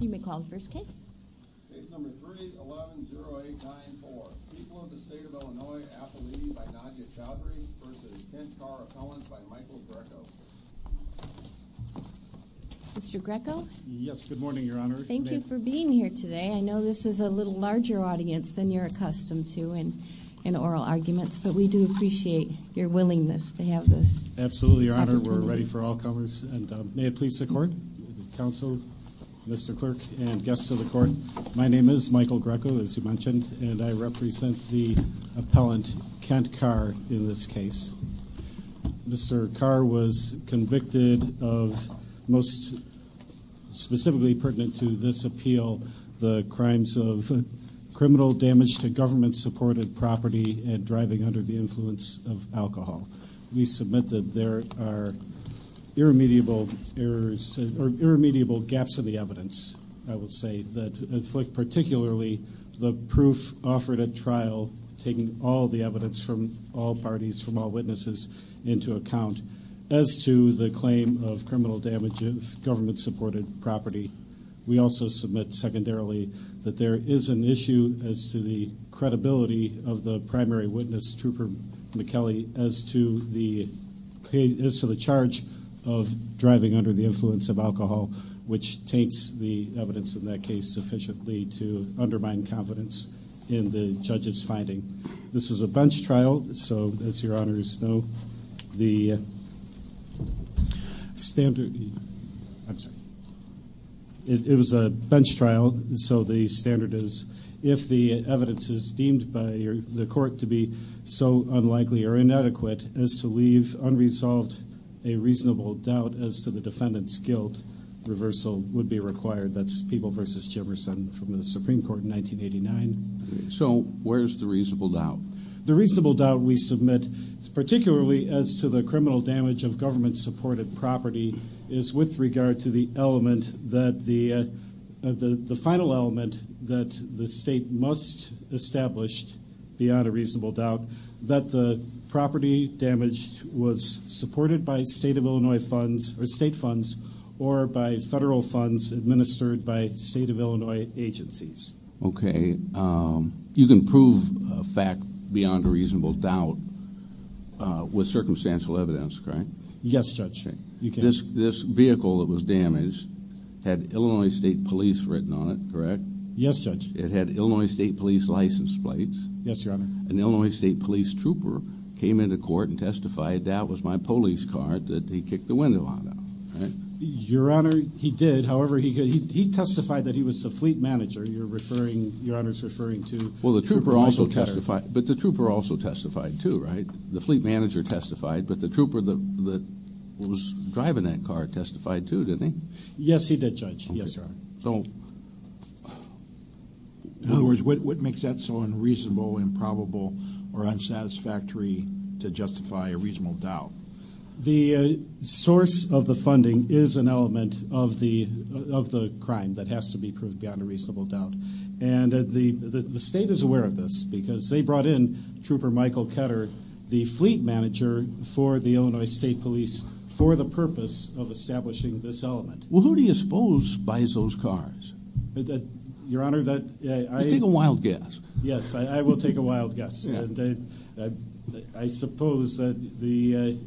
You may call the first case. Mr. Greco? Yes, good morning, Your Honor. Thank you for being here today. I know this is a little larger audience than you're accustomed to in oral arguments, but we do appreciate your willingness to have this. Absolutely, Your Honor. We're ready for all covers. May it please the court, counsel, Mr. Clerk, and guests of the court. My name is Michael Greco, as you mentioned, and I represent the appellant, Kent Carr, in this case. Mr. Carr was convicted of, most specifically pertinent to this appeal, the crimes of criminal damage to government-supported property and driving under the influence of alcohol. We submit that there are irremediable errors, or irremediable gaps in the evidence, I would say, that inflict particularly the proof offered at trial, taking all the evidence from all parties, from all witnesses into account, as to the claim of criminal damage of government-supported property. We also submit, secondarily, that there is an issue as to the credibility of the primary witness, Trooper McKellie, as to the charge of driving under the influence of alcohol, which taints the evidence in that case sufficiently to undermine confidence in the judge's finding. This was a bench trial, so, as Your Honors know, the standard – I'm sorry. It was a bench trial, so the standard is, if the evidence is deemed by the court to be so unlikely or inadequate, as to leave unresolved a reasonable doubt as to the defendant's guilt, reversal would be required. That's Peeble v. Jimerson from the Supreme Court in 1989. So, where's the reasonable doubt? The reasonable doubt we submit, particularly as to the criminal damage of government-supported property, is with regard to the final element that the state must establish, beyond a reasonable doubt, that the property damaged was supported by state funds or by federal funds administered by state of Illinois agencies. Okay. You can prove a fact beyond a reasonable doubt with circumstantial evidence, correct? Yes, Judge. This vehicle that was damaged had Illinois State Police written on it, correct? Yes, Judge. It had Illinois State Police license plates. Yes, Your Honor. An Illinois State Police trooper came into court and testified, that was my police car, that he kicked the window on it, right? Your Honor, he did. However, he testified that he was the fleet manager. You're referring, Your Honor's referring to... Well, the trooper also testified, but the trooper also testified, too, right? The fleet manager testified, but the trooper that was driving that car testified, too, didn't he? Yes, he did, Judge. Yes, Your Honor. So, in other words, what makes that so unreasonable, improbable, or unsatisfactory to justify a reasonable doubt? The source of the funding is an element of the crime that has to be proved beyond a reasonable doubt, and the state is aware of this because they brought in Trooper Michael Ketter, the fleet manager for the Illinois State Police, for the purpose of establishing this element. Well, who do you suppose buys those cars? Your Honor, that... Just take a wild guess. Yes, I will take a wild guess, and I suppose that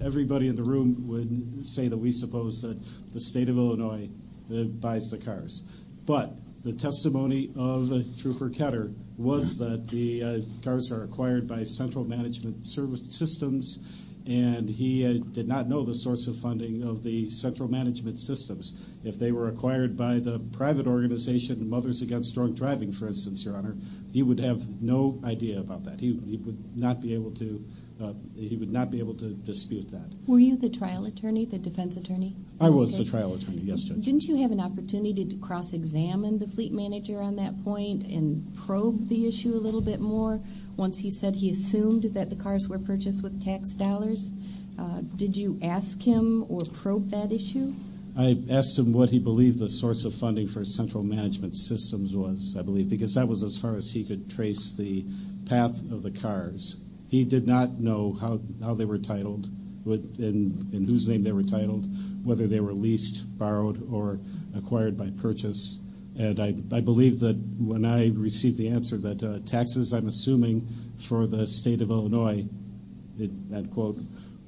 everybody in the room would say that we suppose that the state of Illinois buys the cars. But the testimony of Trooper Ketter was that the cars are acquired by central management systems, and he did not know the source of funding of the central management systems. If they were acquired by the private organization, Mothers Against Strong Driving, for instance, Your Honor, he would have no idea about that. He would not be able to dispute that. Were you the trial attorney, the defense attorney? I was the trial attorney, yes, Judge. Didn't you have an opportunity to cross-examine the fleet manager on that point and probe the issue a little bit more once he said he assumed that the cars were purchased with tax dollars? Did you ask him or probe that issue? I asked him what he believed the source of funding for central management systems was, I believe, because that was as far as he could trace the path of the cars. He did not know how they were titled, in whose name they were titled, whether they were leased, borrowed, or acquired by purchase. And I believe that when I received the answer that taxes, I'm assuming, for the state of Illinois,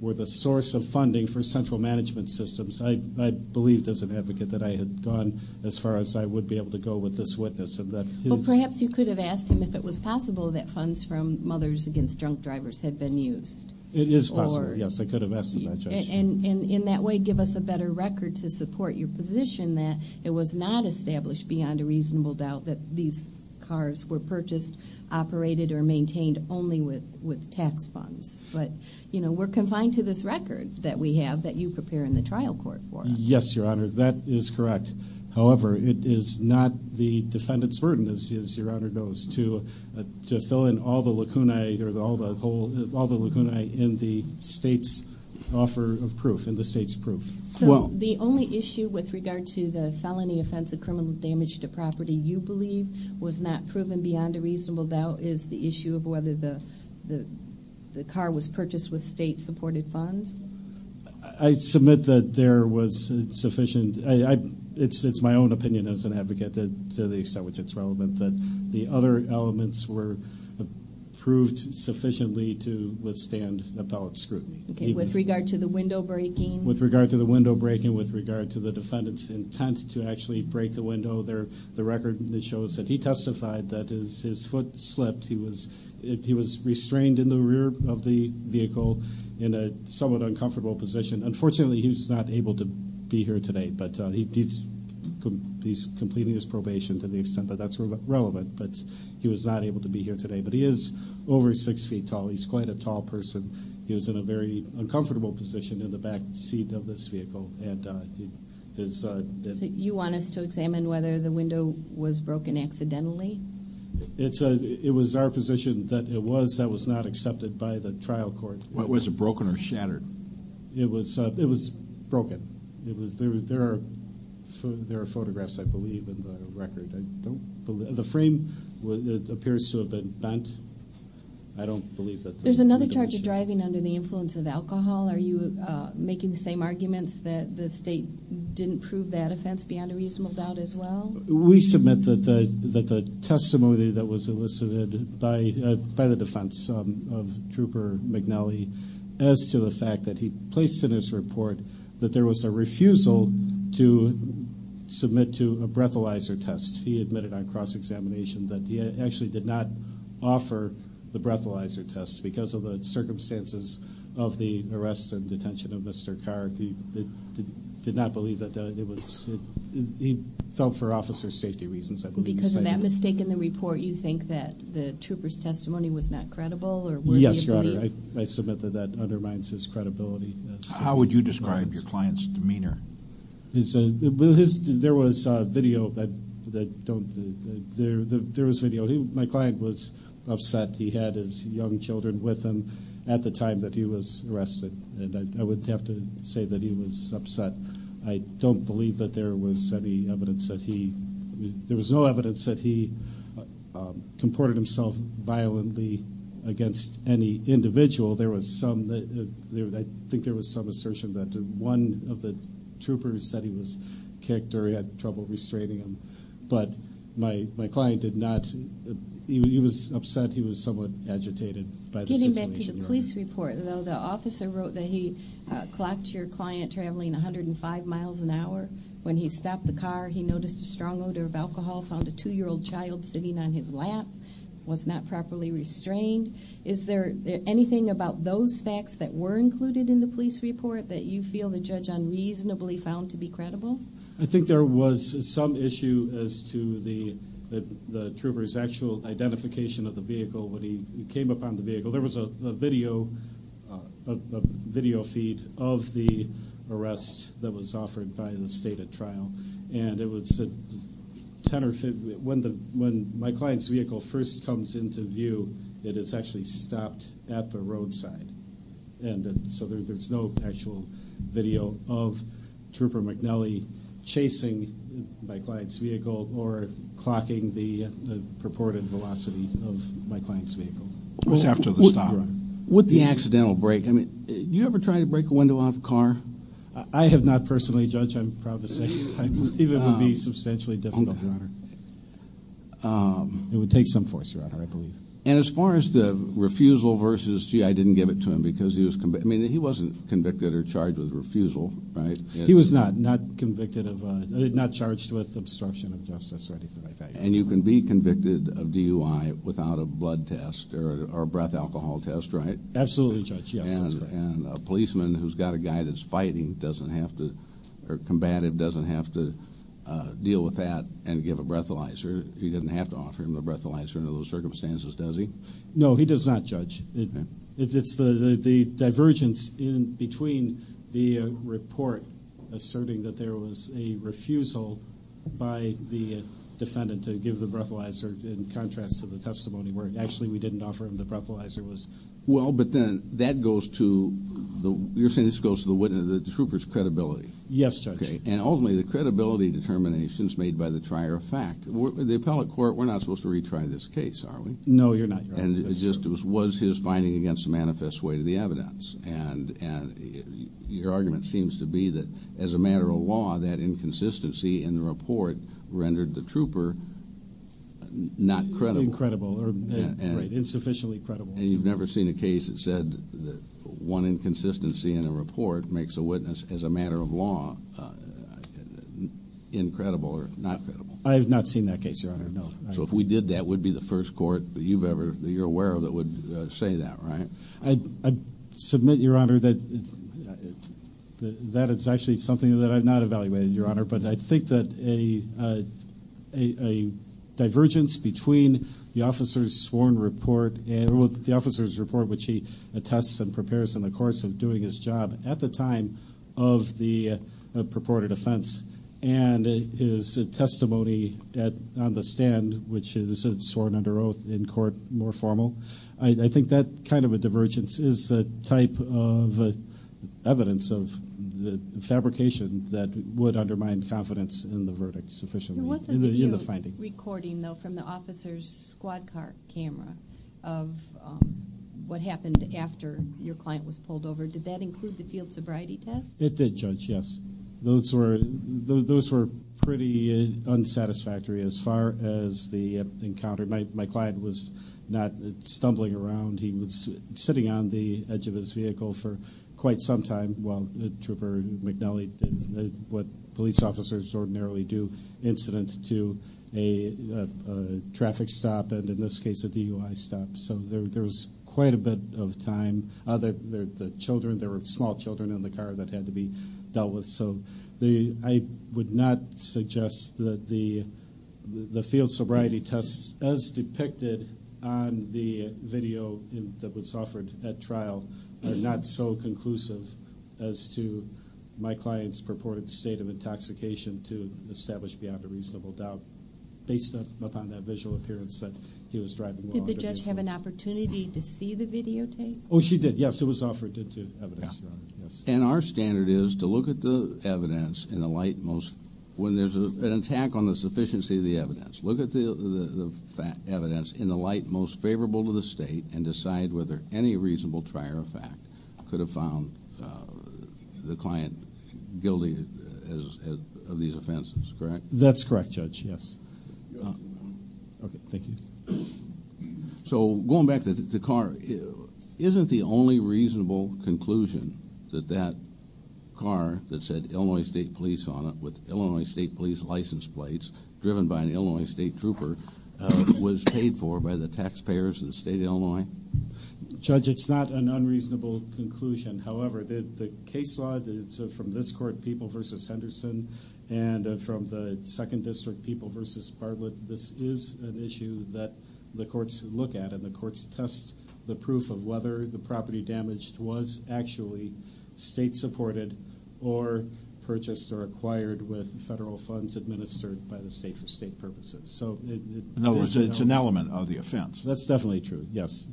were the source of funding for central management systems, I believed as an advocate that I had gone as far as I would be able to go with this witness. Well, perhaps you could have asked him if it was possible that funds from Mothers Against Drunk Drivers had been used. It is possible, yes. I could have asked him that, Judge. And in that way give us a better record to support your position that it was not established beyond a reasonable doubt that these cars were purchased, operated, or maintained only with tax funds. But, you know, we're confined to this record that we have that you prepare in the trial court for. Yes, Your Honor, that is correct. However, it is not the defendant's burden, as Your Honor knows, to fill in all the lacunae in the state's offer of proof, in the state's proof. So the only issue with regard to the felony offense of criminal damage to property you believe was not proven beyond a reasonable doubt is the issue of whether the car was purchased with state-supported funds? I submit that there was sufficient. It's my own opinion as an advocate, to the extent which it's relevant, that the other elements were proved sufficiently to withstand appellate scrutiny. Okay. With regard to the window breaking? With regard to the window breaking, with regard to the defendant's intent to actually break the window, the record shows that he testified that his foot slipped. He was restrained in the rear of the vehicle in a somewhat uncomfortable position. Unfortunately, he was not able to be here today, but he's completing his probation to the extent that that's relevant. But he was not able to be here today. But he is over 6 feet tall. He's quite a tall person. He was in a very uncomfortable position in the back seat of this vehicle. So you want us to examine whether the window was broken accidentally? It was our position that it was. That was not accepted by the trial court. Was it broken or shattered? It was broken. There are photographs, I believe, in the record. The frame appears to have been bent. I don't believe that. There's another charge of driving under the influence of alcohol. Are you making the same arguments that the state didn't prove that offense beyond a reasonable doubt as well? We submit that the testimony that was elicited by the defense of Trooper McNally as to the fact that he placed in his report that there was a refusal to submit to a breathalyzer test. He admitted on cross-examination that he actually did not offer the breathalyzer test because of the circumstances of the arrests and detention of Mr. Carr. He did not believe that it was. He fell for officer safety reasons, I believe. Because of that mistake in the report, you think that the trooper's testimony was not credible? Yes, Your Honor. I submit that that undermines his credibility. How would you describe your client's demeanor? There was video. My client was upset. He had his young children with him at the time that he was arrested, and I would have to say that he was upset. I don't believe that there was any evidence that he – there was no evidence that he comported himself violently against any individual. There was some – I think there was some assertion that one of the troopers said he was kicked or he had trouble restraining him. But my client did not – he was upset. He was somewhat agitated by the situation. Getting back to the police report, though, the officer wrote that he clocked your client traveling 105 miles an hour. When he stopped the car, he noticed a strong odor of alcohol, found a 2-year-old child sitting on his lap, was not properly restrained. Is there anything about those facts that were included in the police report that you feel the judge unreasonably found to be credible? I think there was some issue as to the trooper's actual identification of the vehicle when he came upon the vehicle. There was a video feed of the arrest that was offered by the state at trial, and it was 10 or 15 – when my client's vehicle first comes into view, it is actually stopped at the roadside. And so there's no actual video of Trooper McNally chasing my client's vehicle or clocking the purported velocity of my client's vehicle. It was after the stop. With the accidental break, I mean, do you ever try to break a window off a car? I have not personally, Judge. I'm proud to say it would be substantially difficult, Your Honor. It would take some force, Your Honor, I believe. And as far as the refusal versus, gee, I didn't give it to him because he was – I mean, he wasn't convicted or charged with refusal, right? He was not, not convicted of – not charged with obstruction of justice or anything like that. And you can be convicted of DUI without a blood test or a breath alcohol test, right? Absolutely, Judge. Yes, that's correct. And a policeman who's got a guy that's fighting doesn't have to – or combative doesn't have to deal with that and give a breathalyzer. He doesn't have to offer him the breathalyzer under those circumstances, does he? No, he does not, Judge. It's the divergence in between the report asserting that there was a refusal by the defendant to give the breathalyzer in contrast to the testimony where actually we didn't offer him the breathalyzer. Well, but then that goes to – you're saying this goes to the witness, the trooper's credibility. Yes, Judge. Okay. And ultimately the credibility determination is made by the trier of fact. The appellate court, we're not supposed to retry this case, are we? No, you're not, Your Honor. And it just was his finding against the manifest way to the evidence. And your argument seems to be that as a matter of law, that inconsistency in the report rendered the trooper not credible. Insufficiently credible. And you've never seen a case that said that one inconsistency in a report makes a witness, as a matter of law, incredible or not credible. I have not seen that case, Your Honor, no. So if we did, that would be the first court that you're aware of that would say that, right? I submit, Your Honor, that it's actually something that I've not evaluated, Your Honor, but I think that a divergence between the officer's sworn report and the officer's report, which he attests and prepares in the course of doing his job at the time of the purported offense, and his testimony on the stand, which is sworn under oath in court, more formal, I think that kind of a divergence is a type of evidence of fabrication that would undermine confidence in the verdict sufficiently. It wasn't that you were recording, though, from the officer's squad car camera of what happened after your client was pulled over. Did that include the field sobriety test? It did, Judge, yes. Those were pretty unsatisfactory as far as the encounter. My client was not stumbling around. He was sitting on the edge of his vehicle for quite some time while Trooper McNally did what police officers ordinarily do, incident to a traffic stop and, in this case, a DUI stop. So there was quite a bit of time. The children, there were small children in the car that had to be dealt with. So I would not suggest that the field sobriety test, as depicted on the video that was offered at trial, are not so conclusive as to my client's purported state of intoxication to establish beyond a reasonable doubt, based upon that visual appearance that he was driving while under the influence. Did the judge have an opportunity to see the videotape? Oh, she did, yes. It was offered to evidence. And our standard is to look at the evidence in the light most, when there's an attack on the sufficiency of the evidence, look at the evidence in the light most favorable to the state and decide whether any reasonable trier of fact could have found the client guilty of these offenses, correct? That's correct, Judge, yes. Okay, thank you. So going back to the car, isn't the only reasonable conclusion that that car that said Illinois State Police on it, with Illinois State Police license plates, driven by an Illinois State trooper, was paid for by the taxpayers of the state of Illinois? Judge, it's not an unreasonable conclusion. However, the case law from this court, People v. Henderson, and from the Second District, People v. Bartlett, this is an issue that the courts look at, and the courts test the proof of whether the property damaged was actually state-supported or purchased or acquired with federal funds administered by the state for state purposes. In other words, it's an element of the offense. That's definitely true, yes.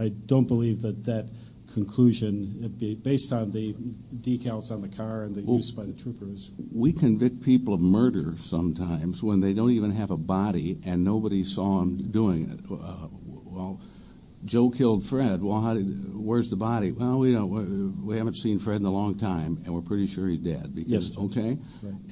I don't believe that that conclusion, based on the decals on the car and the use by the troopers. We convict people of murder sometimes when they don't even have a body and nobody saw them doing it. Well, Joe killed Fred. Well, where's the body? Well, we haven't seen Fred in a long time, and we're pretty sure he's dead. Yes. Okay?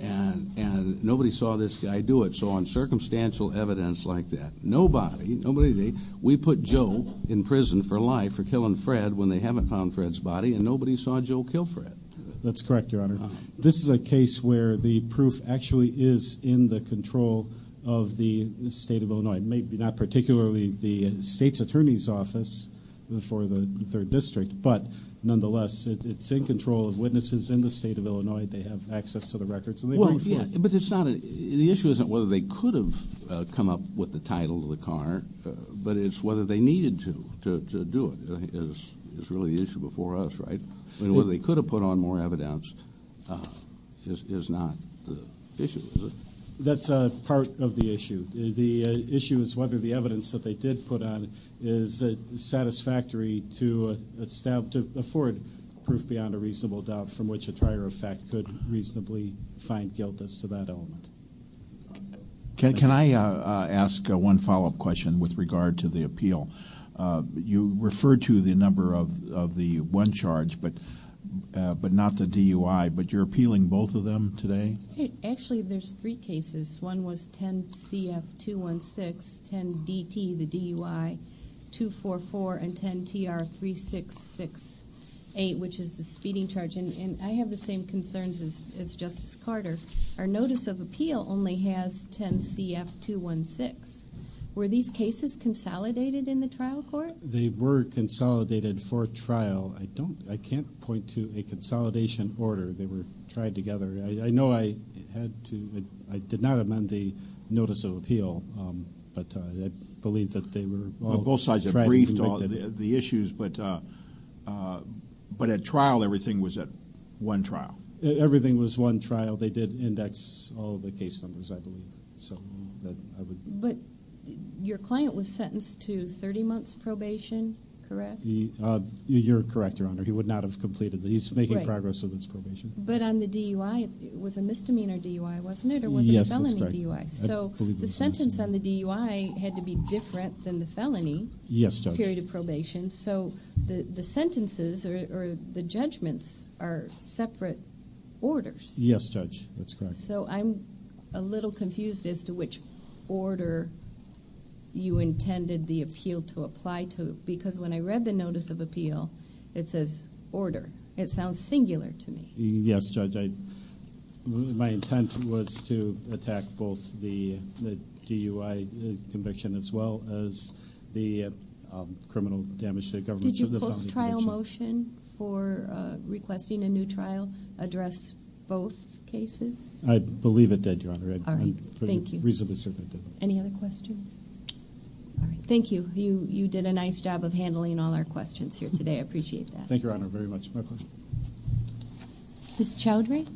And nobody saw this guy do it. So on circumstantial evidence like that, nobody, nobody, we put Joe in prison for life for killing Fred when they haven't found Fred's body, and nobody saw Joe kill Fred. That's correct, Your Honor. This is a case where the proof actually is in the control of the state of Illinois, maybe not particularly the state's attorney's office for the Third District, but nonetheless, it's in control of witnesses in the state of Illinois. They have access to the records, and they bring proof. The issue isn't whether they could have come up with the title of the car, but it's whether they needed to do it is really the issue before us, right? Whether they could have put on more evidence is not the issue, is it? That's part of the issue. The issue is whether the evidence that they did put on is satisfactory to afford proof beyond a reasonable doubt from which a trier of fact could reasonably find guilt as to that element. Can I ask one follow-up question with regard to the appeal? You referred to the number of the one charge, but not the DUI, but you're appealing both of them today? Actually, there's three cases. One was 10CF216, 10DT, the DUI, 244, and 10TR3668, which is the speeding charge, and I have the same concerns as Justice Carter. Our notice of appeal only has 10CF216. Were these cases consolidated in the trial court? They were consolidated for trial. I can't point to a consolidation order. They were tried together. I know I did not amend the notice of appeal, but I believe that they were all tried and convicted. Both sides have briefed on the issues, but at trial, everything was at one trial. Everything was one trial. They did index all the case numbers, I believe. But your client was sentenced to 30 months probation, correct? You're correct, Your Honor. He would not have completed it. He's making progress with his probation. But on the DUI, it was a misdemeanor DUI, wasn't it, or was it a felony DUI? Yes, that's correct. So the sentence on the DUI had to be different than the felony period of probation. Yes, Judge. So the sentences or the judgments are separate orders. Yes, Judge. That's correct. So I'm a little confused as to which order you intended the appeal to apply to, because when I read the notice of appeal, it says order. It sounds singular to me. Yes, Judge. My intent was to attack both the DUI conviction as well as the criminal damage to the government of the felony conviction. Did your post-trial motion for requesting a new trial address both cases? I believe it did, Your Honor. All right. Thank you. I'm reasonably certain it did. Any other questions? All right. Thank you. You did a nice job of handling all our questions here today. I appreciate that. Thank you, Your Honor, very much. Ms. Chowdhury?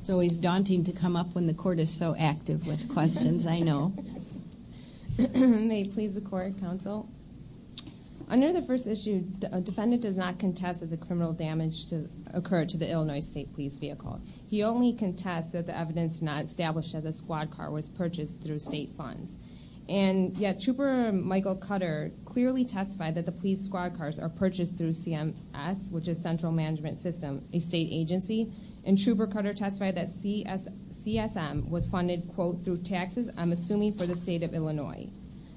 It's always daunting to come up when the Court is so active with questions, I know. May it please the Court, Counsel? Under the first issue, a defendant does not contest that the criminal damage occurred to the Illinois State Police vehicle. He only contests that the evidence not established as a squad car was purchased through state funds. And yet Trooper Michael Cutter clearly testified that the police squad cars are purchased through CMS, which is Central Management System, a state agency. And Trooper Cutter testified that CSM was funded, quote, through taxes, I'm assuming for the State of Illinois.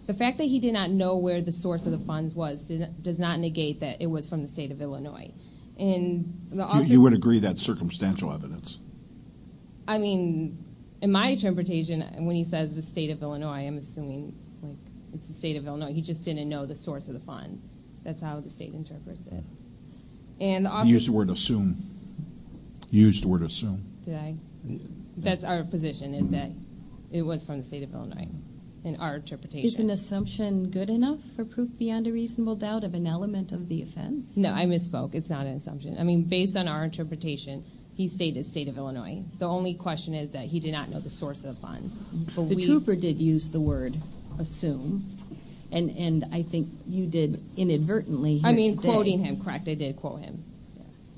The fact that he did not know where the source of the funds was does not negate that it was from the State of Illinois. You would agree that's circumstantial evidence? I mean, in my interpretation, when he says the State of Illinois, I'm assuming it's the State of Illinois. He just didn't know the source of the funds. That's how the State interprets it. You used the word assume. You used the word assume. Did I? That's our position is that it was from the State of Illinois in our interpretation. Is an assumption good enough for proof beyond a reasonable doubt of an element of the offense? No, I misspoke. It's not an assumption. I mean, based on our interpretation, he stated State of Illinois. The only question is that he did not know the source of the funds. The trooper did use the word assume, and I think you did inadvertently. I mean, quoting him. Correct, I did quote him.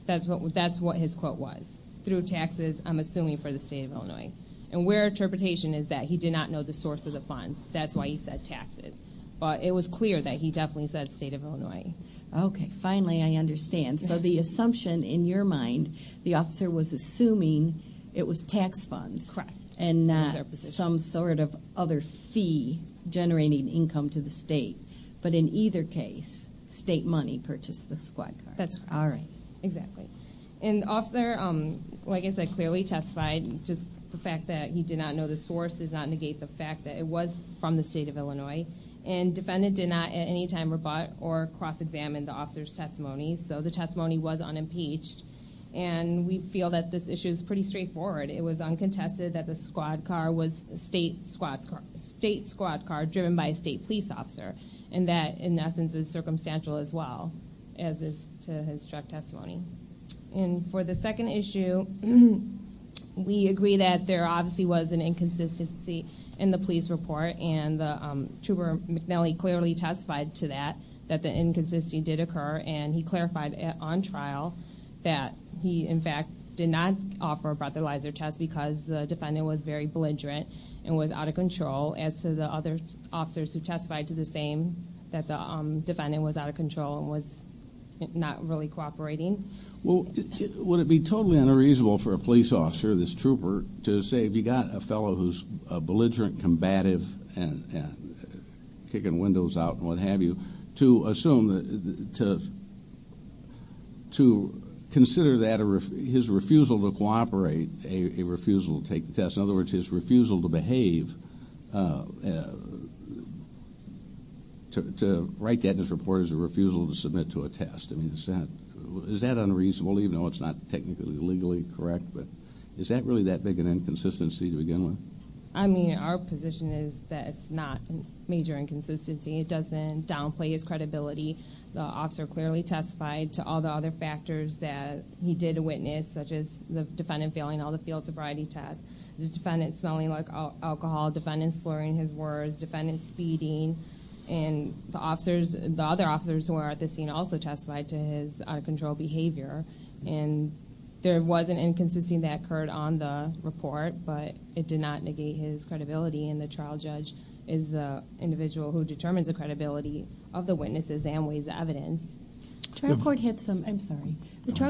That's what his quote was. Through taxes, I'm assuming for the State of Illinois. And our interpretation is that he did not know the source of the funds. That's why he said taxes. But it was clear that he definitely said State of Illinois. Okay. Finally, I understand. So the assumption in your mind, the officer was assuming it was tax funds. Correct. And not some sort of other fee generating income to the State. But in either case, State money purchased the squad car. That's correct. All right. Exactly. And the officer, like I said, clearly testified. Just the fact that he did not know the source does not negate the fact that it was from the State of Illinois. And defendant did not at any time rebut or cross-examine the officer's testimony. So the testimony was unimpeached. And we feel that this issue is pretty straightforward. It was uncontested that the squad car was State squad car driven by a State police officer. And that, in essence, is circumstantial as well, as is to his truck testimony. And for the second issue, we agree that there obviously was an inconsistency in the police report. And the trooper, McNally, clearly testified to that, that the inconsistency did occur. And he clarified on trial that he, in fact, did not offer a breathalyzer test because the defendant was very belligerent and was out of control. As to the other officers who testified to the same, that the defendant was out of control and was not really cooperating. Well, would it be totally unreasonable for a police officer, this trooper, to say if you've got a fellow who's belligerent, combative, and kicking windows out and what have you, to assume that, to consider that his refusal to cooperate, a refusal to take the test. In other words, his refusal to behave, to write that in his report as a refusal to submit to a test. I mean, is that unreasonable, even though it's not technically legally correct? But is that really that big an inconsistency to begin with? I mean, our position is that it's not a major inconsistency. It doesn't downplay his credibility. The officer clearly testified to all the other factors that he did witness, such as the defendant failing all the field sobriety tests. The defendant smelling like alcohol. The defendant slurring his words. The defendant speeding. And the other officers who were at the scene also testified to his out-of-control behavior. And there was an inconsistency that occurred on the report, but it did not negate his credibility. And the trial judge is an individual who determines the credibility of the witnesses and weighs evidence. The trial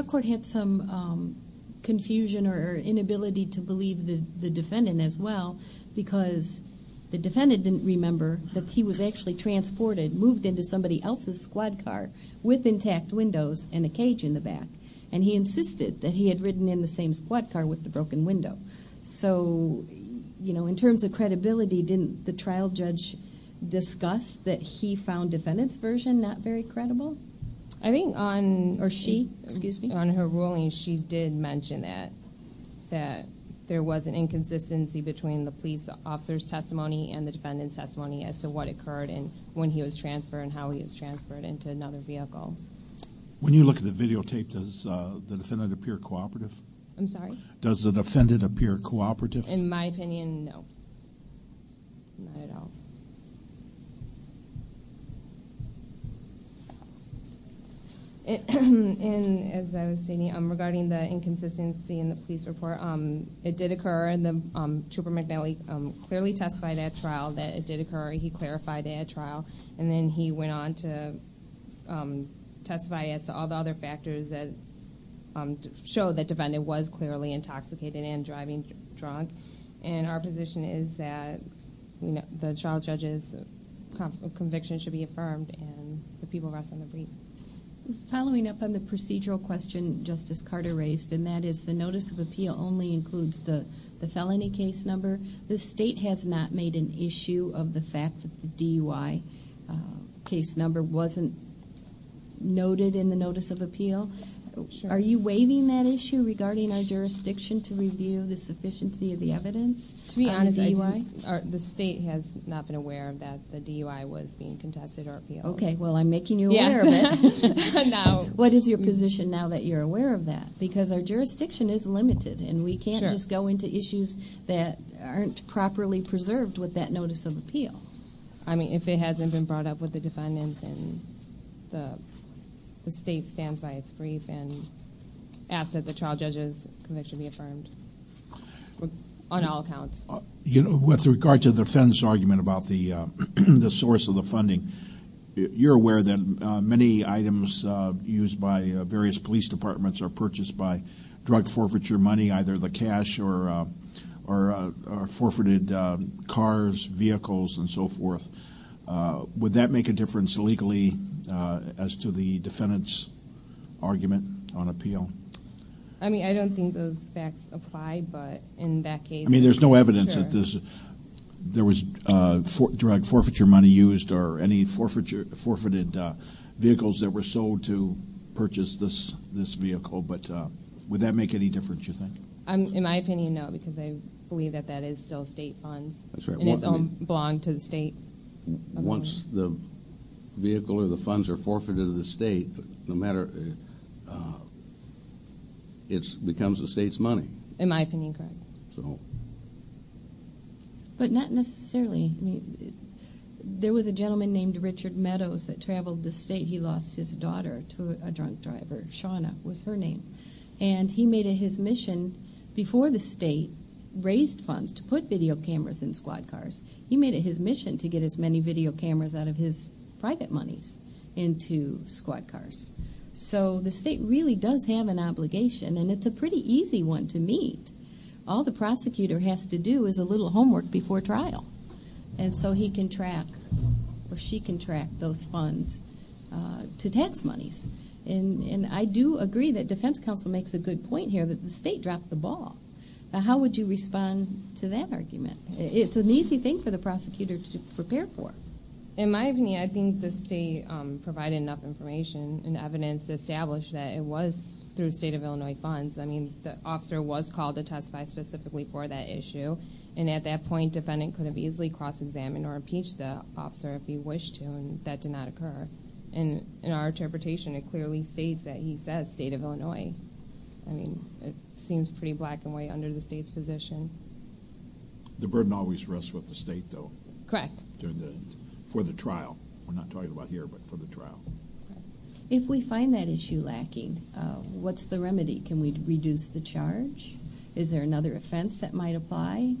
court had some confusion or inability to believe the defendant as well, because the defendant didn't remember that he was actually transported, moved into somebody else's squad car with intact windows and a cage in the back. And he insisted that he had ridden in the same squad car with the broken window. So, you know, in terms of credibility, didn't the trial judge discuss that he found the defendant's version not very credible? I think on her ruling she did mention that there was an inconsistency between the police officer's testimony and the defendant's testimony as to what occurred when he was transferred and how he was transferred into another vehicle. When you look at the videotape, does the defendant appear cooperative? I'm sorry? Does the defendant appear cooperative? In my opinion, no. Not at all. And as I was saying, regarding the inconsistency in the police report, it did occur. Trooper McNally clearly testified at trial that it did occur. He clarified it at trial. And then he went on to testify as to all the other factors that show that the defendant was clearly intoxicated and driving drunk. And our position is that the trial judge's conviction should be affirmed and the people rest on the brief. Following up on the procedural question Justice Carter raised, and that is the notice of appeal only includes the felony case number, the state has not made an issue of the fact that the DUI case number wasn't noted in the notice of appeal. Are you waiving that issue regarding our jurisdiction to review the sufficiency of the evidence on the DUI? The state has not been aware that the DUI was being contested or appealed. Okay. Well, I'm making you aware of it. What is your position now that you're aware of that? Because our jurisdiction is limited and we can't just go into issues that aren't properly preserved with that notice of appeal. I mean, if it hasn't been brought up with the defendant, then the state stands by its brief and asks that the trial judge's conviction be affirmed on all accounts. With regard to the defendant's argument about the source of the funding, you're aware that many items used by various police departments are purchased by drug forfeiture money, either the cash or forfeited cars, vehicles, and so forth. Would that make a difference legally as to the defendant's argument on appeal? I mean, I don't think those facts apply, but in that case, sure. There was drug forfeiture money used or any forfeited vehicles that were sold to purchase this vehicle, but would that make any difference, you think? In my opinion, no, because I believe that that is still state funds. That's right. And it belongs to the state. Once the vehicle or the funds are forfeited to the state, it becomes the state's money. In my opinion, correct. But not necessarily. There was a gentleman named Richard Meadows that traveled the state. He lost his daughter to a drunk driver. Shawna was her name. And he made it his mission before the state raised funds to put video cameras in squad cars, he made it his mission to get as many video cameras out of his private monies into squad cars. So the state really does have an obligation, and it's a pretty easy one to meet. All the prosecutor has to do is a little homework before trial, and so he can track or she can track those funds to tax monies. And I do agree that defense counsel makes a good point here that the state dropped the ball. How would you respond to that argument? It's an easy thing for the prosecutor to prepare for. In my opinion, I think the state provided enough information and evidence to establish that it was through state of Illinois funds. I mean, the officer was called to testify specifically for that issue, and at that point defendant could have easily cross-examined or impeached the officer if he wished to, and that did not occur. And in our interpretation, it clearly states that he says state of Illinois. I mean, it seems pretty black and white under the state's position. The burden always rests with the state, though. Correct. For the trial. We're not talking about here, but for the trial. If we find that issue lacking, what's the remedy? Can we reduce the charge? Is there another offense that might apply?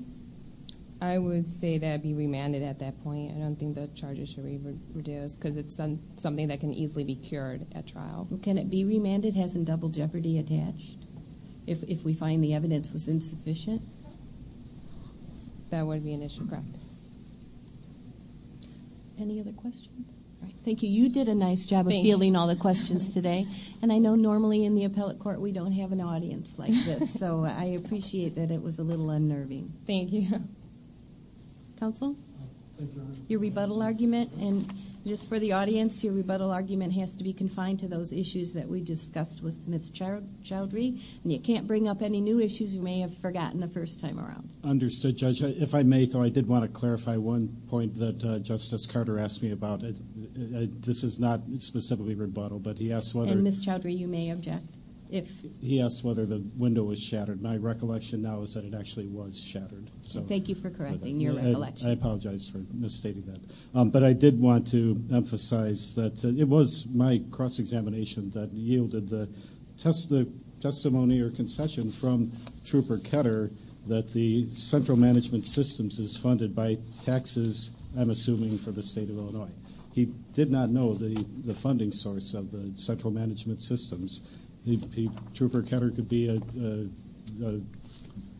I would say that it would be remanded at that point. I don't think the charges should be reduced because it's something that can easily be cured at trial. Can it be remanded? Hasn't double jeopardy attached if we find the evidence was insufficient? That would be an issue. Correct. Any other questions? Thank you. You did a nice job of fielding all the questions today. And I know normally in the appellate court we don't have an audience like this, so I appreciate that it was a little unnerving. Thank you. Counsel? Your rebuttal argument, and just for the audience, your rebuttal argument has to be confined to those issues that we discussed with Ms. Childry, and you can't bring up any new issues you may have forgotten the first time around. Understood, Judge. If I may, though, I did want to clarify one point that Justice Carter asked me about. This is not specifically rebuttal, but he asked whether the window was shattered. My recollection now is that it actually was shattered. Thank you for correcting your recollection. I apologize for misstating that. But I did want to emphasize that it was my cross-examination that yielded the testimony or concession from Trooper Ketter that the Central Management Systems is funded by taxes, I'm assuming, for the State of Illinois. He did not know the funding source of the Central Management Systems. Trooper Ketter could be a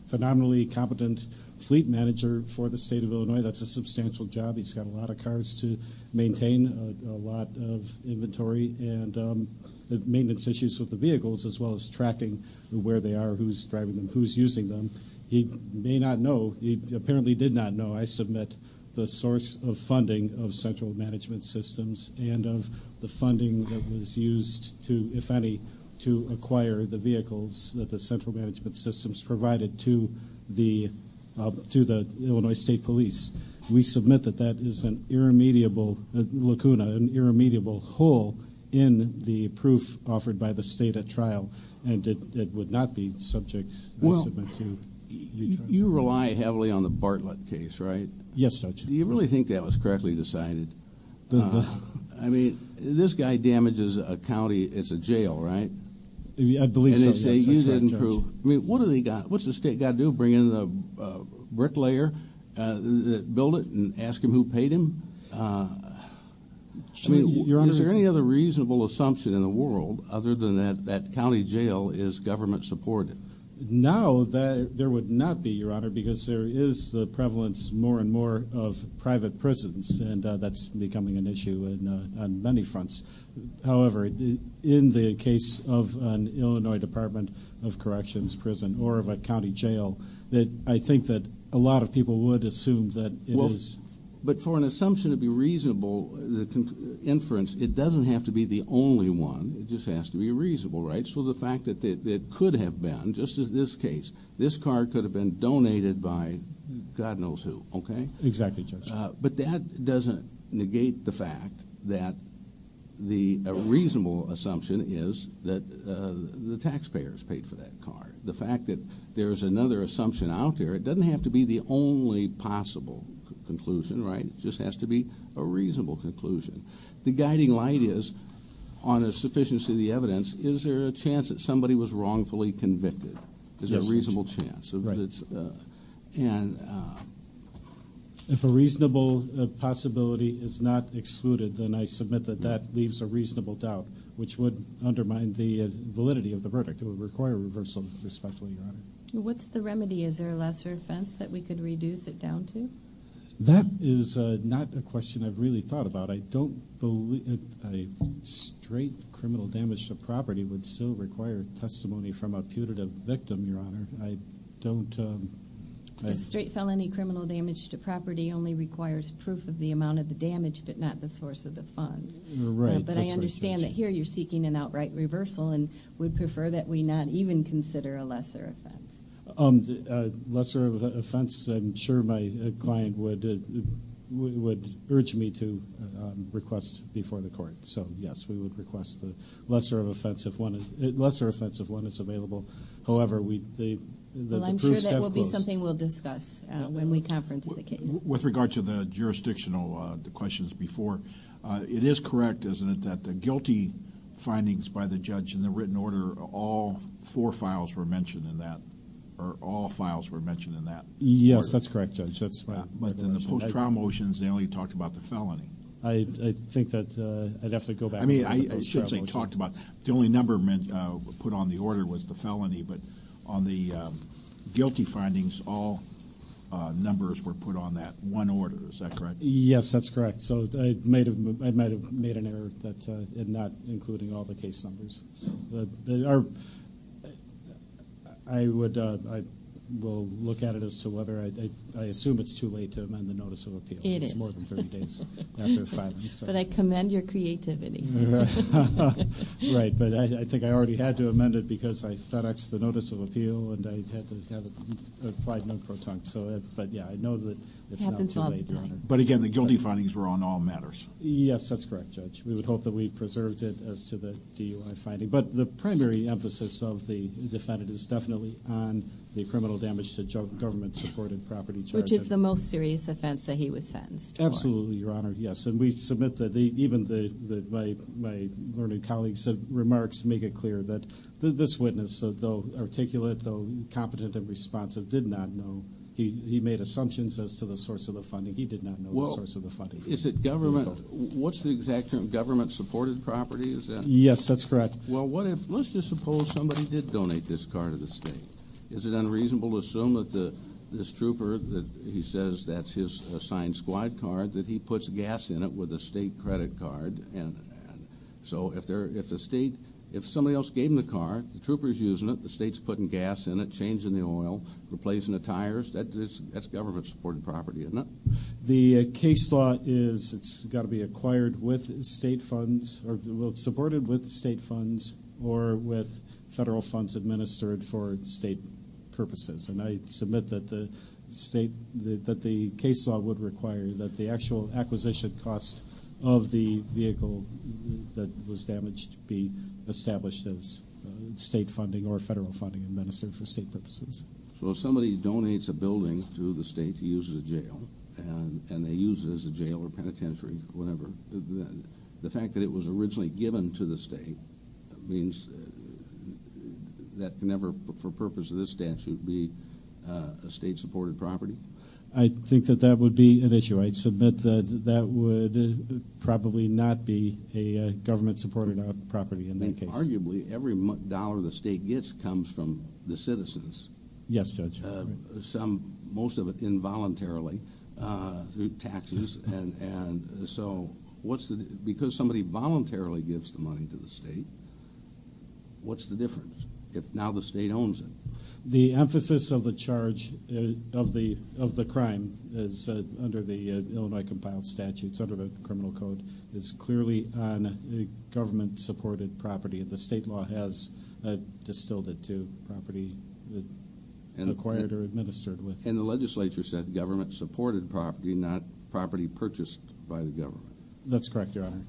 phenomenally competent fleet manager for the State of Illinois. That's a substantial job. He's got a lot of cars to maintain, a lot of inventory, and the maintenance issues with the vehicles as well as tracking where they are, who's driving them, who's using them. He may not know. He apparently did not know. I submit the source of funding of Central Management Systems and of the funding that was used to, if any, to acquire the vehicles that the Central Management Systems provided to the Illinois State Police. We submit that that is an irremediable lacuna, an irremediable hole in the proof offered by the State at trial, and it would not be subject, I submit, to your judgment. You rely heavily on the Bartlett case, right? Yes, Judge. Do you really think that was correctly decided? I mean, this guy damages a county. It's a jail, right? I believe so, yes. And they say you didn't prove. I mean, what's the State got to do, bring in a bricklayer? Build it and ask him who paid him? I mean, is there any other reasonable assumption in the world other than that that county jail is government supported? No, there would not be, Your Honor, because there is the prevalence more and more of private prisons, and that's becoming an issue on many fronts. However, in the case of an Illinois Department of Corrections prison or of a county jail, I think that a lot of people would assume that it is. But for an assumption to be reasonable, the inference, it doesn't have to be the only one. It just has to be reasonable, right? So the fact that it could have been, just as this case, this car could have been donated by God knows who, okay? Exactly, Judge. But that doesn't negate the fact that the reasonable assumption is that the taxpayers paid for that car. The fact that there's another assumption out there, it doesn't have to be the only possible conclusion, right? It just has to be a reasonable conclusion. The guiding light is, on a sufficiency of the evidence, is there a chance that somebody was wrongfully convicted? Yes, Judge. Is there a reasonable chance? Right. And- If a reasonable possibility is not excluded, then I submit that that leaves a reasonable doubt, which would undermine the validity of the verdict. It would require reversal, respectfully, Your Honor. What's the remedy? Is there a lesser offense that we could reduce it down to? That is not a question I've really thought about. I don't believe a straight criminal damage to property would still require testimony from a putative victim, Your Honor. I don't- A straight felony criminal damage to property only requires proof of the amount of the damage but not the source of the funds. Right. But I understand that here you're seeking an outright reversal and would prefer that we not even consider a lesser offense. A lesser offense, I'm sure my client would urge me to request before the court. So, yes, we would request the lesser offense if one is available. However, the proofs have closed. Well, I'm sure that will be something we'll discuss when we conference the case. With regard to the jurisdictional questions before, it is correct, isn't it, that the guilty findings by the judge in the written order, all four files were mentioned in that or all files were mentioned in that order? Yes, that's correct, Judge. But in the post-trial motions, they only talked about the felony. I think that I'd have to go back to the post-trial motion. The only number put on the order was the felony, but on the guilty findings, all numbers were put on that one order, is that correct? Yes, that's correct. So I might have made an error in not including all the case numbers. I will look at it as to whether I assume it's too late to amend the notice of appeal. It is. It's more than 30 days after the filing. But I commend your creativity. Right. But I think I already had to amend it because I FedExed the notice of appeal and I had to have it applied non-proton. But, yeah, I know that it's not too late, Your Honor. But, again, the guilty findings were on all matters. Yes, that's correct, Judge. We would hope that we preserved it as to the DUI finding. But the primary emphasis of the defendant is definitely on the criminal damage to government-supported property charges. Which is the most serious offense that he was sentenced for. Absolutely, Your Honor, yes. And we submit that even my learned colleagues' remarks make it clear that this witness, though articulate, though competent and responsive, did not know. He made assumptions as to the source of the funding. He did not know the source of the funding. Is it government? What's the exact term? Government-supported property, is that it? Yes, that's correct. Well, let's just suppose somebody did donate this car to the state. Is it unreasonable to assume that this trooper, that he says that's his assigned squad car, that he puts gas in it with a state credit card? So if somebody else gave him the car, the trooper's using it, the state's putting gas in it, changing the oil, replacing the tires, that's government-supported property, isn't it? The case law is it's got to be acquired with state funds or supported with state funds or with federal funds administered for state purposes. And I submit that the case law would require that the actual acquisition cost of the vehicle that was damaged be established as state funding or federal funding administered for state purposes. So if somebody donates a building to the state to use as a jail and they use it as a jail or penitentiary or whatever, the fact that it was originally given to the state means that can never, for purpose of this statute, be a state-supported property? I think that that would be an issue. I submit that that would probably not be a government-supported property in that case. Arguably, every dollar the state gets comes from the citizens. Yes, Judge. Most of it involuntarily through taxes. And so because somebody voluntarily gives the money to the state, what's the difference if now the state owns it? The emphasis of the charge of the crime is under the Illinois compiled statutes, under the criminal code, is clearly on a government-supported property. The state law has distilled it to property acquired or administered with. And the legislature said government-supported property, not property purchased by the government. That's correct, Your Honor.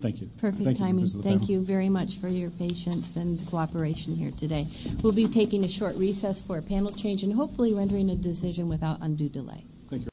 Thank you. Perfect timing. Thank you very much for your patience and cooperation here today. We'll be taking a short recess for a panel change and hopefully rendering a decision without undue delay. Thank you.